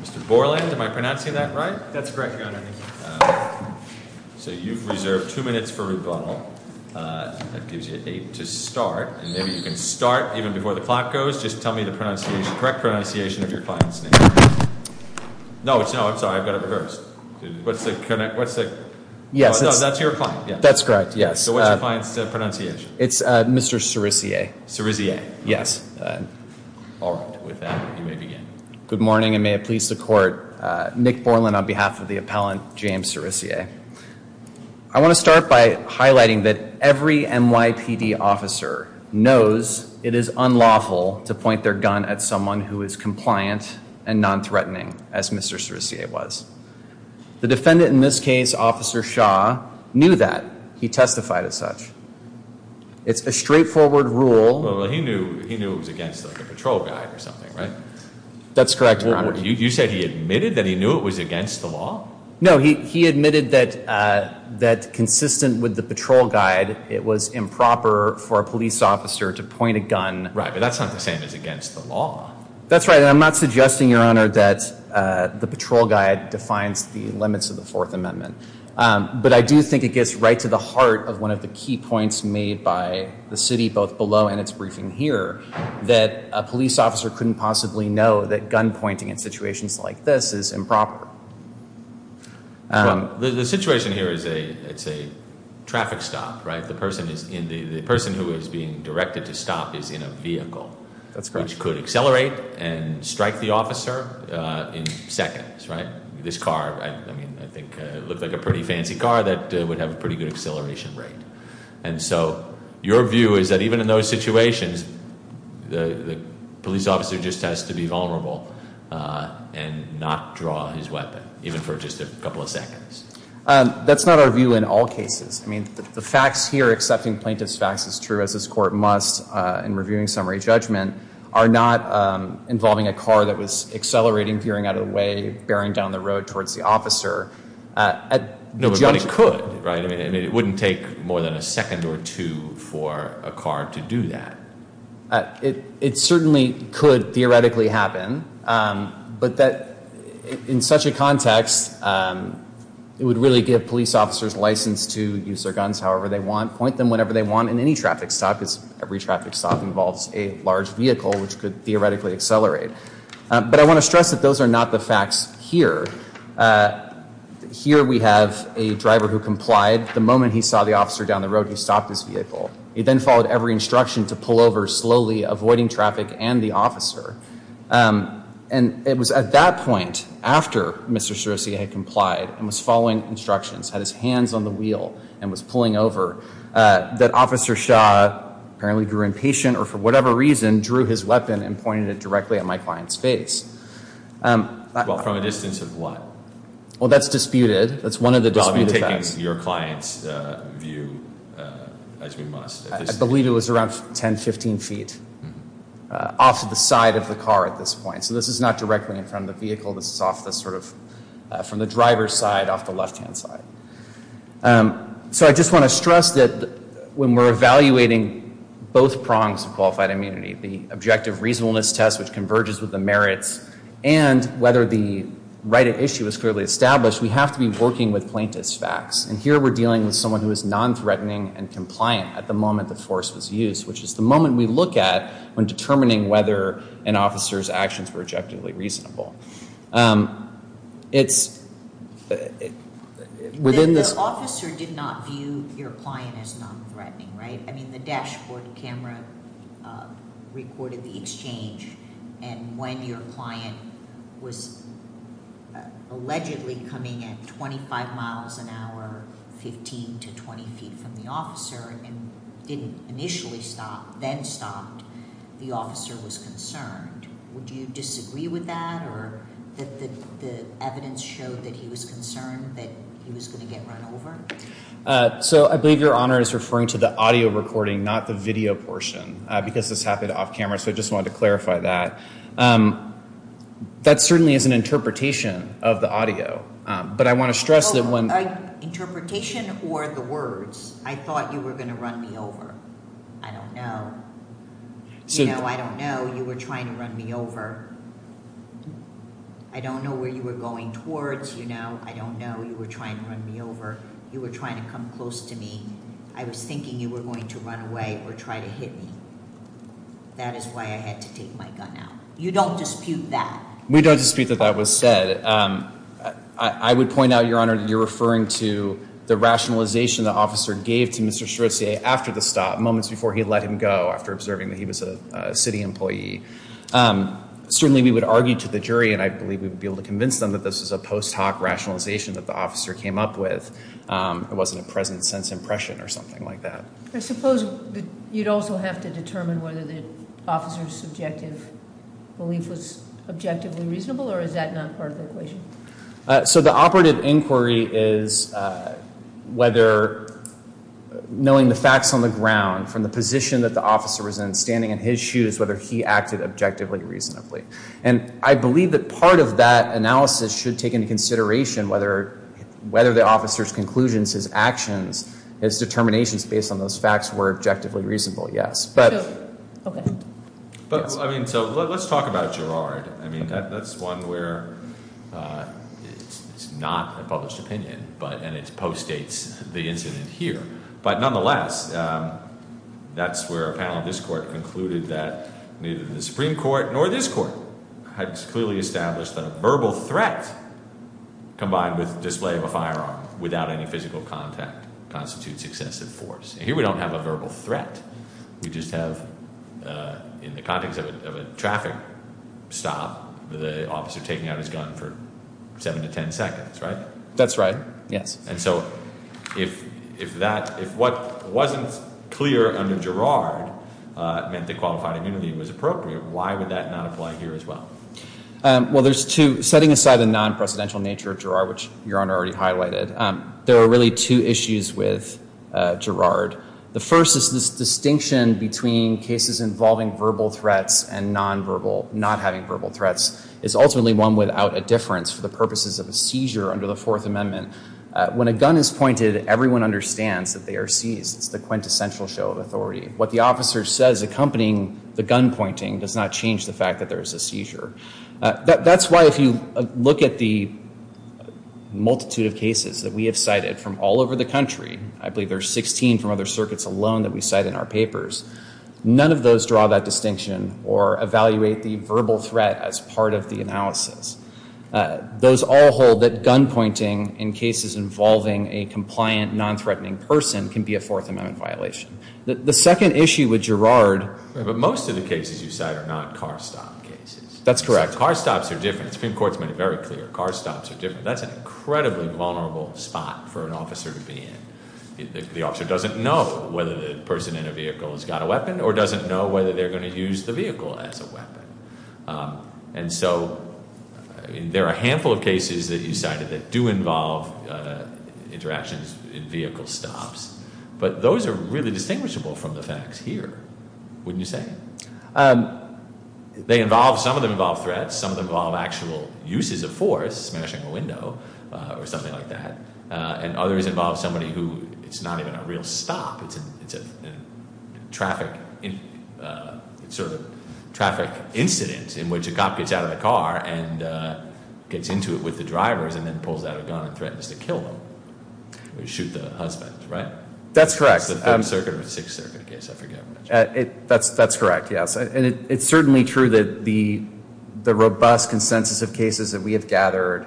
Mr. Borland, am I pronouncing that right? That's correct, Your Honor. So you've reserved two minutes for rebuttal. That gives you eight to start. And maybe you can start even before the clock goes. Just tell me the correct pronunciation of your client's name. No, I'm sorry. I've got it reversed. What's the... No, that's your client. That's correct, yes. So what's your client's pronunciation? It's Mr. Cerisier. Cerisier. Yes. All right. With that, you may begin. Good morning, and may it please the Court. Nick Borland on behalf of the appellant, James Cerisier. I want to start by highlighting that every NYPD officer knows it is unlawful to point their gun at someone who is compliant and non-threatening, as Mr. Cerisier was. The defendant in this case, Officer Shaw, knew that. He testified as such. It's a straightforward rule. Well, he knew it was against the patrol guide or something, right? That's correct, Your Honor. You said he admitted that he knew it was against the law? No, he admitted that consistent with the patrol guide, it was improper for a police officer to point a gun... Right, but that's not the same as against the law. That's right, and I'm not suggesting, Your Honor, that the patrol guide defines the limits of the Fourth Amendment. But I do think it gets right to the heart of one of the key points made by the city, both below and its briefing here, that a police officer couldn't possibly know that gun pointing in situations like this is improper. The situation here is a traffic stop, right? The person who is being directed to stop is in a vehicle. That's correct. Which could accelerate and strike the officer in seconds, right? This car, I think, looked like a pretty fancy car that would have a pretty good acceleration rate. And so your view is that even in those situations, the police officer just has to be vulnerable and not draw his weapon, even for just a couple of seconds. That's not our view in all cases. I mean, the facts here, accepting plaintiff's facts is true, as this court must in reviewing summary judgment, are not involving a car that was accelerating, veering out of the way, bearing down the road towards the officer. No, but it could, right? I mean, it wouldn't take more than a second or two for a car to do that. It certainly could theoretically happen. But that in such a context, it would really give police officers license to use their guns however they want, point them whenever they want in any traffic stop because every traffic stop involves a large vehicle, which could theoretically accelerate. But I want to stress that those are not the facts here. Here we have a driver who complied the moment he saw the officer down the road. He stopped his vehicle. He then followed every instruction to pull over slowly, avoiding traffic and the officer. And it was at that point, after Mr. Cerusi had complied and was following instructions, had his hands on the wheel and was pulling over, that Officer Shaw apparently grew impatient or for whatever reason drew his weapon and pointed it directly at my client's face. Well, from a distance of what? Well, that's disputed. That's one of the disputed facts. Give us your client's view as we must. I believe it was around 10, 15 feet off to the side of the car at this point. So this is not directly in front of the vehicle. This is off the sort of from the driver's side off the left-hand side. So I just want to stress that when we're evaluating both prongs of qualified immunity, the objective reasonableness test, which converges with the merits, and whether the right at issue is clearly established, we have to be working with plaintiff's facts. And here we're dealing with someone who is nonthreatening and compliant at the moment the force was used, which is the moment we look at when determining whether an officer's actions were objectively reasonable. The officer did not view your client as nonthreatening, right? I mean, the dashboard camera recorded the exchange, and when your client was allegedly coming at 25 miles an hour, 15 to 20 feet from the officer, and didn't initially stop, then stopped, the officer was concerned. Would you disagree with that, or the evidence showed that he was concerned that he was going to get run over? So I believe Your Honor is referring to the audio recording, not the video portion, because this happened off camera, so I just wanted to clarify that. That certainly is an interpretation of the audio, but I want to stress that when- Interpretation or the words, I thought you were going to run me over. I don't know. You know, I don't know. You were trying to run me over. I don't know where you were going towards. You know, I don't know. You were trying to run me over. You were trying to come close to me. I was thinking you were going to run away or try to hit me. That is why I had to take my gun out. You don't dispute that. We don't dispute that that was said. I would point out, Your Honor, that you're referring to the rationalization the officer gave to Mr. Cherousier after the stop, moments before he let him go, after observing that he was a city employee. Certainly we would argue to the jury, and I believe we would be able to convince them that this was a post hoc rationalization that the officer came up with. It wasn't a present sense impression or something like that. I suppose you'd also have to determine whether the officer's subjective belief was objectively reasonable, or is that not part of the equation? So the operative inquiry is whether, knowing the facts on the ground, from the position that the officer was in, standing in his shoes, whether he acted objectively reasonably. And I believe that part of that analysis should take into consideration whether the officer's conclusions, his actions, his determinations based on those facts were objectively reasonable, yes. So let's talk about Girard. That's one where it's not a published opinion, and it post-dates the incident here. But nonetheless, that's where a panel of this court concluded that neither the Supreme Court nor this court had clearly established that a verbal threat combined with display of a firearm without any physical contact constitutes excessive force. Here we don't have a verbal threat. We just have, in the context of a traffic stop, the officer taking out his gun for 7 to 10 seconds, right? That's right, yes. And so if what wasn't clear under Girard meant that qualified immunity was appropriate, why would that not apply here as well? Well, there's two. Setting aside the non-presidential nature of Girard, which Your Honor already highlighted, there are really two issues with Girard. The first is this distinction between cases involving verbal threats and non-verbal, not having verbal threats, is ultimately one without a difference for the purposes of a seizure under the Fourth Amendment. When a gun is pointed, everyone understands that they are seized. It's the quintessential show of authority. What the officer says accompanying the gun pointing does not change the fact that there is a seizure. That's why if you look at the multitude of cases that we have cited from all over the country, I believe there are 16 from other circuits alone that we cite in our papers, none of those draw that distinction or evaluate the verbal threat as part of the analysis. Those all hold that gun pointing in cases involving a compliant, non-threatening person can be a Fourth Amendment violation. The second issue with Girard- But most of the cases you cite are not car stop cases. That's correct. Car stops are different. The Supreme Court has made it very clear. Car stops are different. That's an incredibly vulnerable spot for an officer to be in. The officer doesn't know whether the person in a vehicle has got a weapon or doesn't know whether they're going to use the vehicle as a weapon. And so there are a handful of cases that you cited that do involve interactions in vehicle stops, but those are really distinguishable from the facts here, wouldn't you say? Some of them involve threats. Some of them involve actual uses of force, smashing a window or something like that. And others involve somebody who it's not even a real stop. It's a traffic incident in which a cop gets out of the car and gets into it with the drivers and then pulls out a gun and threatens to kill them or shoot the husband, right? That's correct. It's a Third Circuit or Sixth Circuit case, I forget. That's correct, yes. And it's certainly true that the robust consensus of cases that we have gathered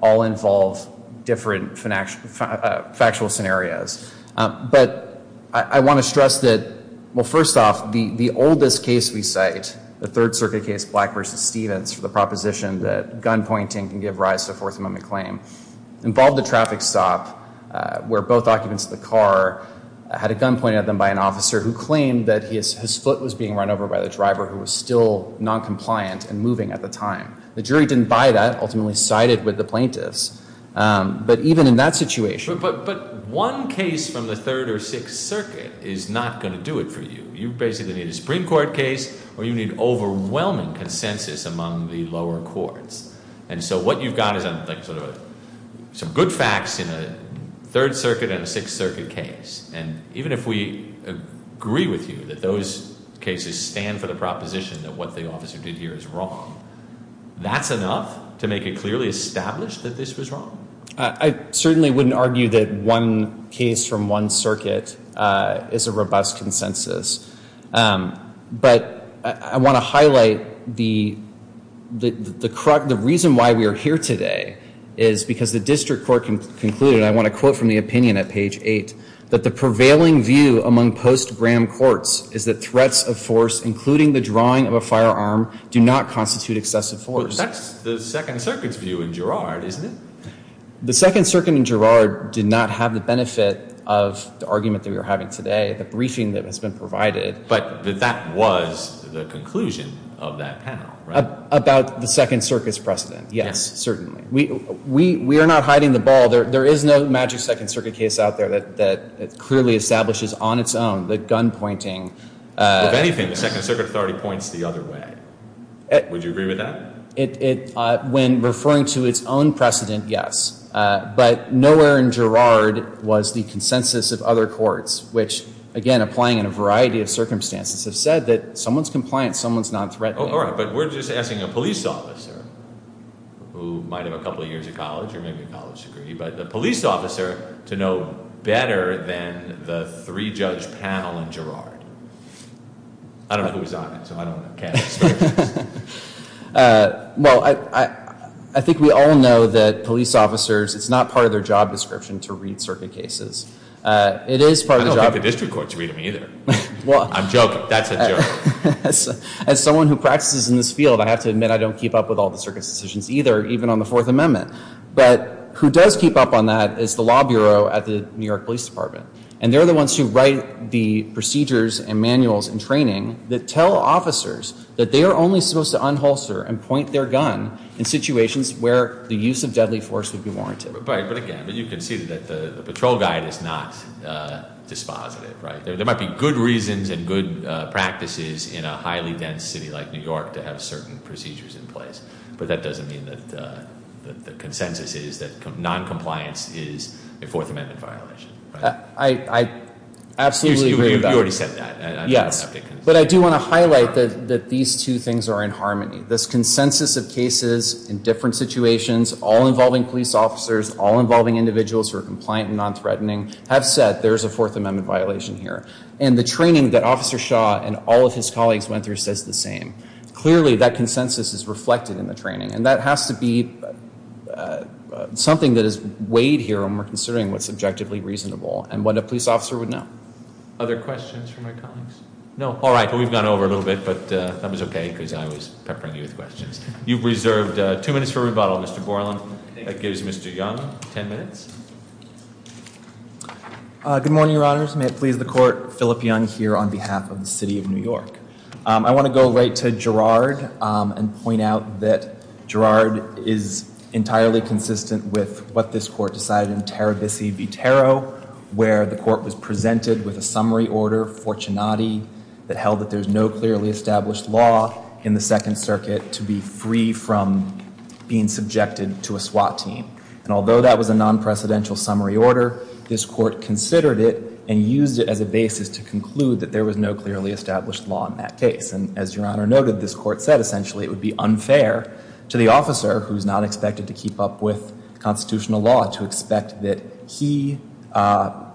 all involve different factual scenarios. But I want to stress that, well, first off, the oldest case we cite, the Third Circuit case, Black v. Stevens, for the proposition that gunpointing can give rise to a Fourth Amendment claim, involved a traffic stop where both occupants of the car had a gun pointed at them by an officer who claimed that his foot was being run over by the driver who was still noncompliant and moving at the time. The jury didn't buy that, ultimately sided with the plaintiffs. But even in that situation. But one case from the Third or Sixth Circuit is not going to do it for you. You basically need a Supreme Court case or you need overwhelming consensus among the lower courts. And so what you've got is some good facts in a Third Circuit and a Sixth Circuit case. And even if we agree with you that those cases stand for the proposition that what the officer did here is wrong, that's enough to make it clearly established that this was wrong? I certainly wouldn't argue that one case from one circuit is a robust consensus. But I want to highlight the reason why we are here today is because the district court concluded, and I want to quote from the opinion at page eight, that the prevailing view among post-Graham courts is that threats of force, including the drawing of a firearm, do not constitute excessive force. That's the Second Circuit's view in Girard, isn't it? The Second Circuit in Girard did not have the benefit of the argument that we are having today, the briefing that has been provided. But that was the conclusion of that panel, right? About the Second Circuit's precedent, yes, certainly. We are not hiding the ball. There is no magic Second Circuit case out there that clearly establishes on its own the gun pointing. If anything, the Second Circuit authority points the other way. Would you agree with that? When referring to its own precedent, yes. But nowhere in Girard was the consensus of other courts, which, again, applying in a variety of circumstances, have said that someone's compliant, someone's not threatening. All right. But we're just asking a police officer who might have a couple of years of college or maybe a college degree, but the police officer to know better than the three-judge panel in Girard. I don't know who was on it, so I don't know. Well, I think we all know that police officers, it's not part of their job description to read circuit cases. It is part of the job description. I don't think the district courts read them either. I'm joking. That's a joke. As someone who practices in this field, I have to admit I don't keep up with all the circuit's decisions either, even on the Fourth Amendment. But who does keep up on that is the law bureau at the New York Police Department. And they're the ones who write the procedures and manuals and training that tell officers that they are only supposed to unholster and point their gun in situations where the use of deadly force would be warranted. Right. But, again, you can see that the patrol guide is not dispositive, right? There might be good reasons and good practices in a highly dense city like New York to have certain procedures in place. But that doesn't mean that the consensus is that noncompliance is a Fourth Amendment violation. I absolutely agree. You already said that. Yes. But I do want to highlight that these two things are in harmony. This consensus of cases in different situations, all involving police officers, all involving individuals who are compliant and nonthreatening, have said there is a Fourth Amendment violation here. And the training that Officer Shaw and all of his colleagues went through says the same. Clearly, that consensus is reflected in the training. And that has to be something that is weighed here when we're considering what's objectively reasonable and what a police officer would know. Other questions from my colleagues? No. All right. We've gone over a little bit, but that was okay because I was peppering you with questions. You've reserved two minutes for rebuttal, Mr. Borland. That gives Mr. Young ten minutes. Good morning, Your Honors. May it please the Court, Philip Young here on behalf of the City of New York. I want to go right to Gerard and point out that Gerard is entirely consistent with what this Court decided in Tarabisi v. Tarot, where the Court was presented with a summary order, Fortunati, that held that there's no clearly established law in the Second Circuit to be free from being subjected to a SWAT team. And although that was a non-precedential summary order, this Court considered it and used it as a basis to conclude that there was no clearly established law in that case. And as Your Honor noted, this Court said essentially it would be unfair to the officer who's not expected to keep up with constitutional law to expect that he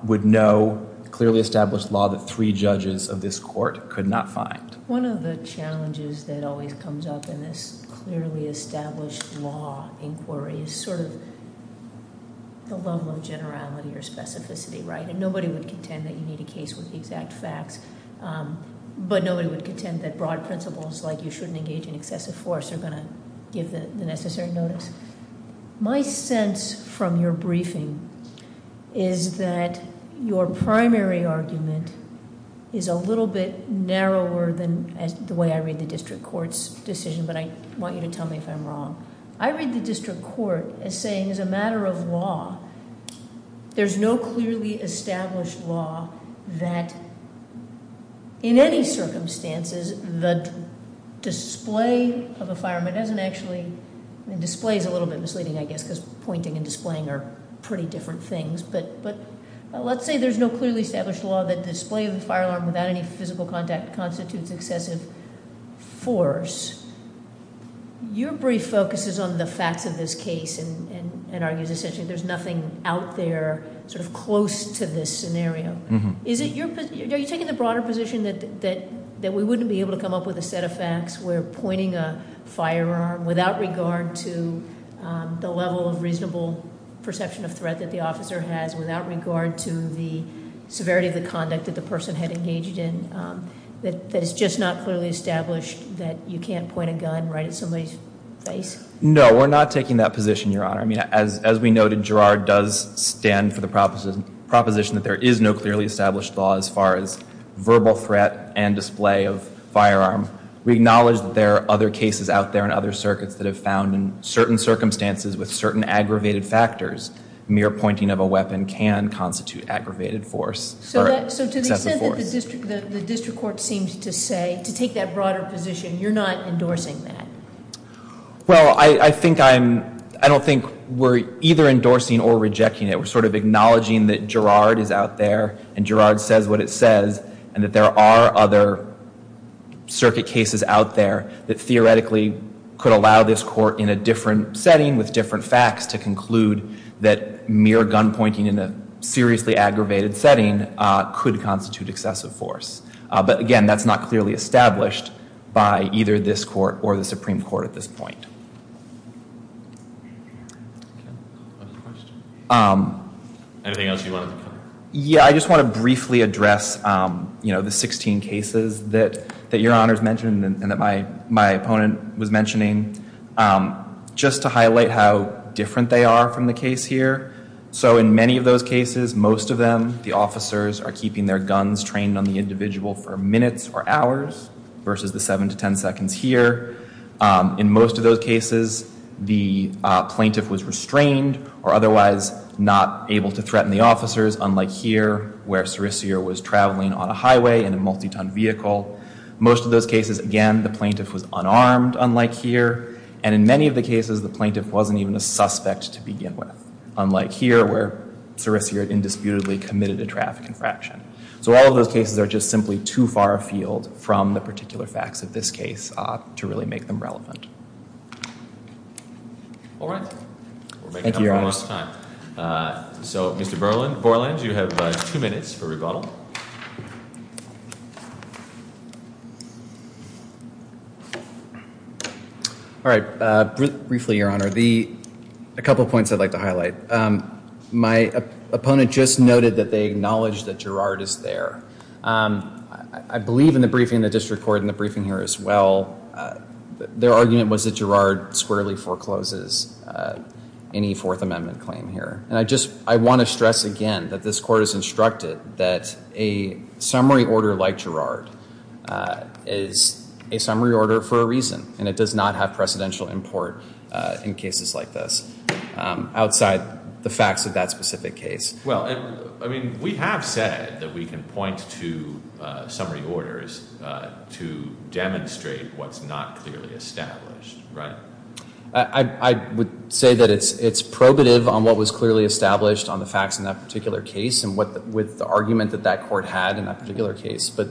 would know clearly established law that three judges of this Court could not find. One of the challenges that always comes up in this clearly established law inquiry is sort of the level of generality or specificity, right? And nobody would contend that you need a case with the exact facts, but nobody would contend that broad principles like you shouldn't engage in excessive force are going to give the necessary notice. My sense from your briefing is that your primary argument is a little bit narrower than the way I read the district court's decision, but I want you to tell me if I'm wrong. I read the district court as saying, as a matter of law, there's no clearly established law that, in any circumstances, the display of a firearm isn't actually, and display is a little bit misleading, I guess, because pointing and displaying are pretty different things. But let's say there's no clearly established law that display of a firearm without any physical contact constitutes excessive force. Your brief focuses on the facts of this case and argues essentially there's nothing out there sort of close to this scenario. Are you taking the broader position that we wouldn't be able to come up with a set of facts where pointing a firearm without regard to the level of reasonable perception of threat that the officer has, without regard to the severity of the conduct that the person had engaged in, that it's just not clearly established that you can't point a gun right at somebody's face? No, we're not taking that position, Your Honor. I mean, as we noted, Girard does stand for the proposition that there is no clearly established law as far as verbal threat and display of firearm. We acknowledge that there are other cases out there in other circuits that have found in certain circumstances with certain aggravated factors mere pointing of a weapon can constitute aggravated force or excessive force. So to the extent that the district court seems to say, to take that broader position, you're not endorsing that? Well, I don't think we're either endorsing or rejecting it. We're sort of acknowledging that Girard is out there and Girard says what it says and that there are other circuit cases out there that theoretically could allow this court in a different setting with different facts to conclude that mere gun pointing in a seriously aggravated setting could constitute excessive force. But again, that's not clearly established by either this court or the Supreme Court at this point. Anything else you wanted to comment? Yeah, I just want to briefly address the 16 cases that Your Honor's mentioned and that my opponent was mentioning just to highlight how different they are from the case here. So in many of those cases, most of them, the officers are keeping their guns trained on the individual for minutes or hours versus the 7 to 10 seconds here. In most of those cases, the plaintiff was restrained or otherwise not able to threaten the officers unlike here where Serissier was traveling on a highway in a multi-ton vehicle. Most of those cases, again, the plaintiff was unarmed unlike here. And in many of the cases, the plaintiff wasn't even a suspect to begin with unlike here where Serissier indisputably committed a traffic infraction. So all of those cases are just simply too far afield from the particular facts of this case to really make them relevant. All right. Thank you, Your Honor. So Mr. Borland, you have two minutes for rebuttal. All right. Briefly, Your Honor, a couple of points I'd like to highlight. My opponent just noted that they acknowledged that Girard is there. I believe in the briefing, the district court in the briefing here as well, their argument was that Girard squarely forecloses any Fourth Amendment claim here. And I want to stress again that this court has instructed that a summary order like Girard is a summary order for a reason and it does not have precedential import in cases like this outside the facts of that specific case. Well, I mean, we have said that we can point to summary orders to demonstrate what's not clearly established, right? I would say that it's probative on what was clearly established on the facts in that particular case and with the argument that that court had in that particular case. But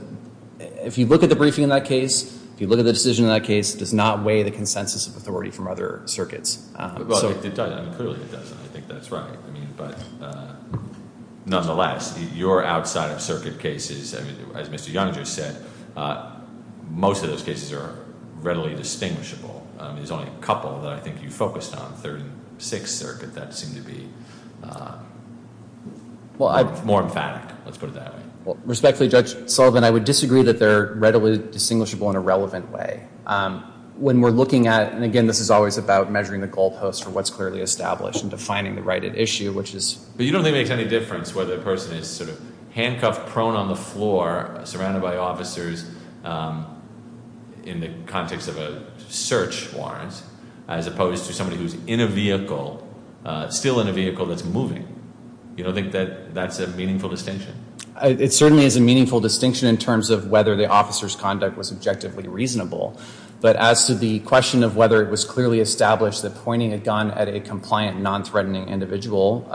if you look at the briefing in that case, if you look at the decision in that case, it does not weigh the consensus of authority from other circuits. Well, it doesn't. Clearly it doesn't. I think that's right. But nonetheless, your outside of circuit cases, as Mr. Young just said, most of those cases are readily distinguishable. There's only a couple that I think you focused on, Third and Sixth Circuit, that seem to be more emphatic. Let's put it that way. Respectfully, Judge Sullivan, I would disagree that they're readily distinguishable in a relevant way. When we're looking at, and again, this is always about measuring the goalposts for what's clearly established and defining the right at issue, which is… But you don't think it makes any difference whether a person is sort of handcuffed prone on the floor, surrounded by officers in the context of a search warrant, as opposed to somebody who's in a vehicle, still in a vehicle that's moving. You don't think that that's a meaningful distinction? It certainly is a meaningful distinction in terms of whether the officer's conduct was objectively reasonable. But as to the question of whether it was clearly established that pointing a gun at a compliant, non-threatening individual,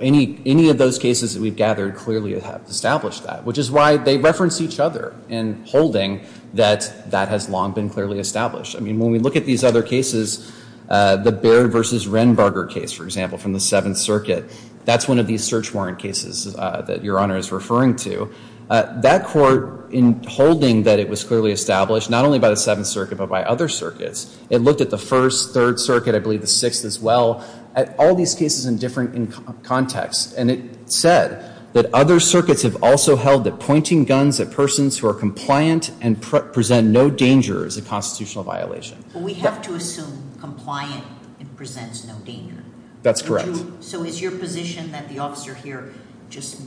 any of those cases that we've gathered clearly have established that, which is why they reference each other in holding that that has long been clearly established. I mean, when we look at these other cases, the Baird v. Renberger case, for example, from the Seventh Circuit, that's one of these search warrant cases that Your Honor is referring to. That court, in holding that it was clearly established, not only by the Seventh Circuit, but by other circuits, it looked at the First, Third Circuit, I believe the Sixth as well, at all these cases in different contexts. And it said that other circuits have also held that pointing guns at persons who are compliant and present no danger is a constitutional violation. But we have to assume compliant and presents no danger. That's correct. So is your position that the officer here just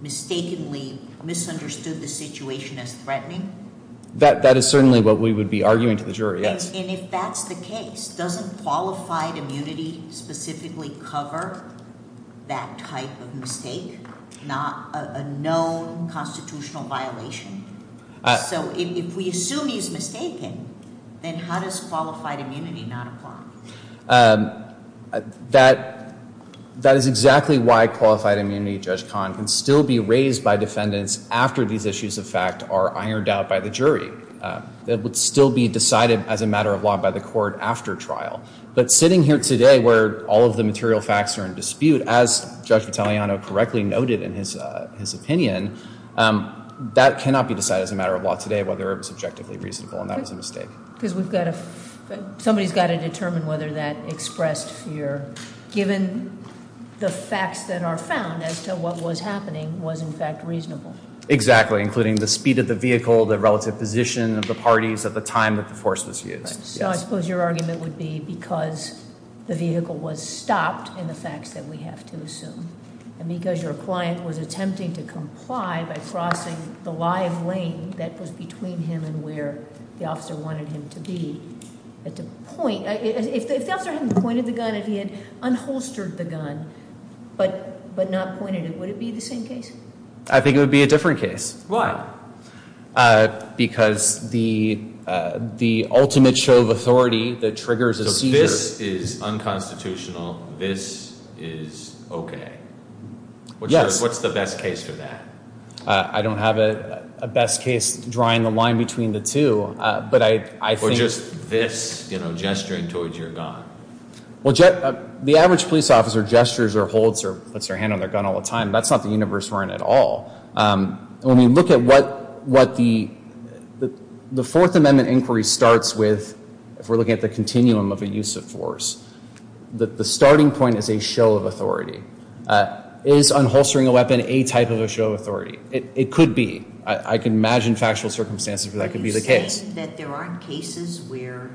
mistakenly misunderstood the situation as threatening? That is certainly what we would be arguing to the jury, yes. And if that's the case, doesn't qualified immunity specifically cover that type of mistake, a known constitutional violation? So if we assume he's mistaken, then how does qualified immunity not apply? That is exactly why qualified immunity, Judge Kahn, can still be raised by defendants after these issues of fact are ironed out by the jury. It would still be decided as a matter of law by the court after trial. But sitting here today where all of the material facts are in dispute, as Judge Vitaliano correctly noted in his opinion, that cannot be decided as a matter of law today whether it was objectively reasonable, and that was a mistake. Because somebody's got to determine whether that expressed fear, given the facts that are found as to what was happening was in fact reasonable. Exactly, including the speed of the vehicle, the relative position of the parties at the time that the force was used. So I suppose your argument would be because the vehicle was stopped in the facts that we have to assume, and because your client was attempting to comply by crossing the live lane that was between him and where the officer wanted him to be. If the officer hadn't pointed the gun, if he had unholstered the gun but not pointed it, would it be the same case? I think it would be a different case. Why? Because the ultimate show of authority that triggers a seizure- So this is unconstitutional, this is okay? Yes. What's the best case for that? I don't have a best case drawing the line between the two, but I think- Or just this, you know, gesturing towards your gun. Well, the average police officer gestures or holds or puts their hand on their gun all the time. That's not the universe we're in at all. When we look at what the Fourth Amendment inquiry starts with, if we're looking at the continuum of a use of force, the starting point is a show of authority. Is unholstering a weapon a type of a show of authority? It could be. I can imagine factual circumstances where that could be the case. Are you saying that there aren't cases where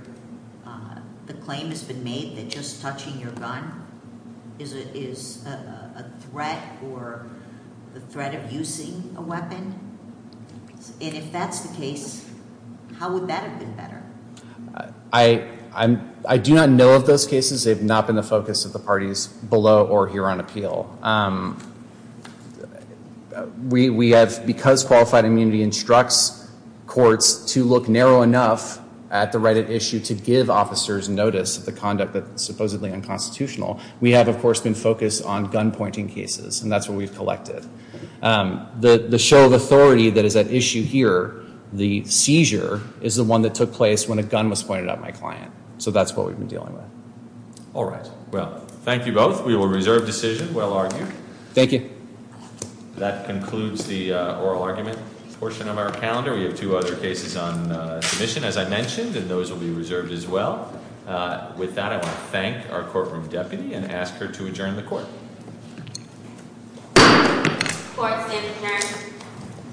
the claim has been made that just touching your gun is a threat or the threat of using a weapon? And if that's the case, how would that have been better? I do not know of those cases. They have not been the focus of the parties below or here on appeal. Because Qualified Immunity instructs courts to look narrow enough at the right at issue to give officers notice of the conduct that's supposedly unconstitutional, we have, of course, been focused on gun-pointing cases, and that's what we've collected. The show of authority that is at issue here, the seizure, is the one that took place when a gun was pointed at my client. So that's what we've been dealing with. All right. Well, thank you both. We will reserve decision. Well argued. Thank you. That concludes the oral argument portion of our calendar. We have two other cases on submission, as I mentioned, and those will be reserved as well. With that, I want to thank our courtroom deputy and ask her to adjourn the court.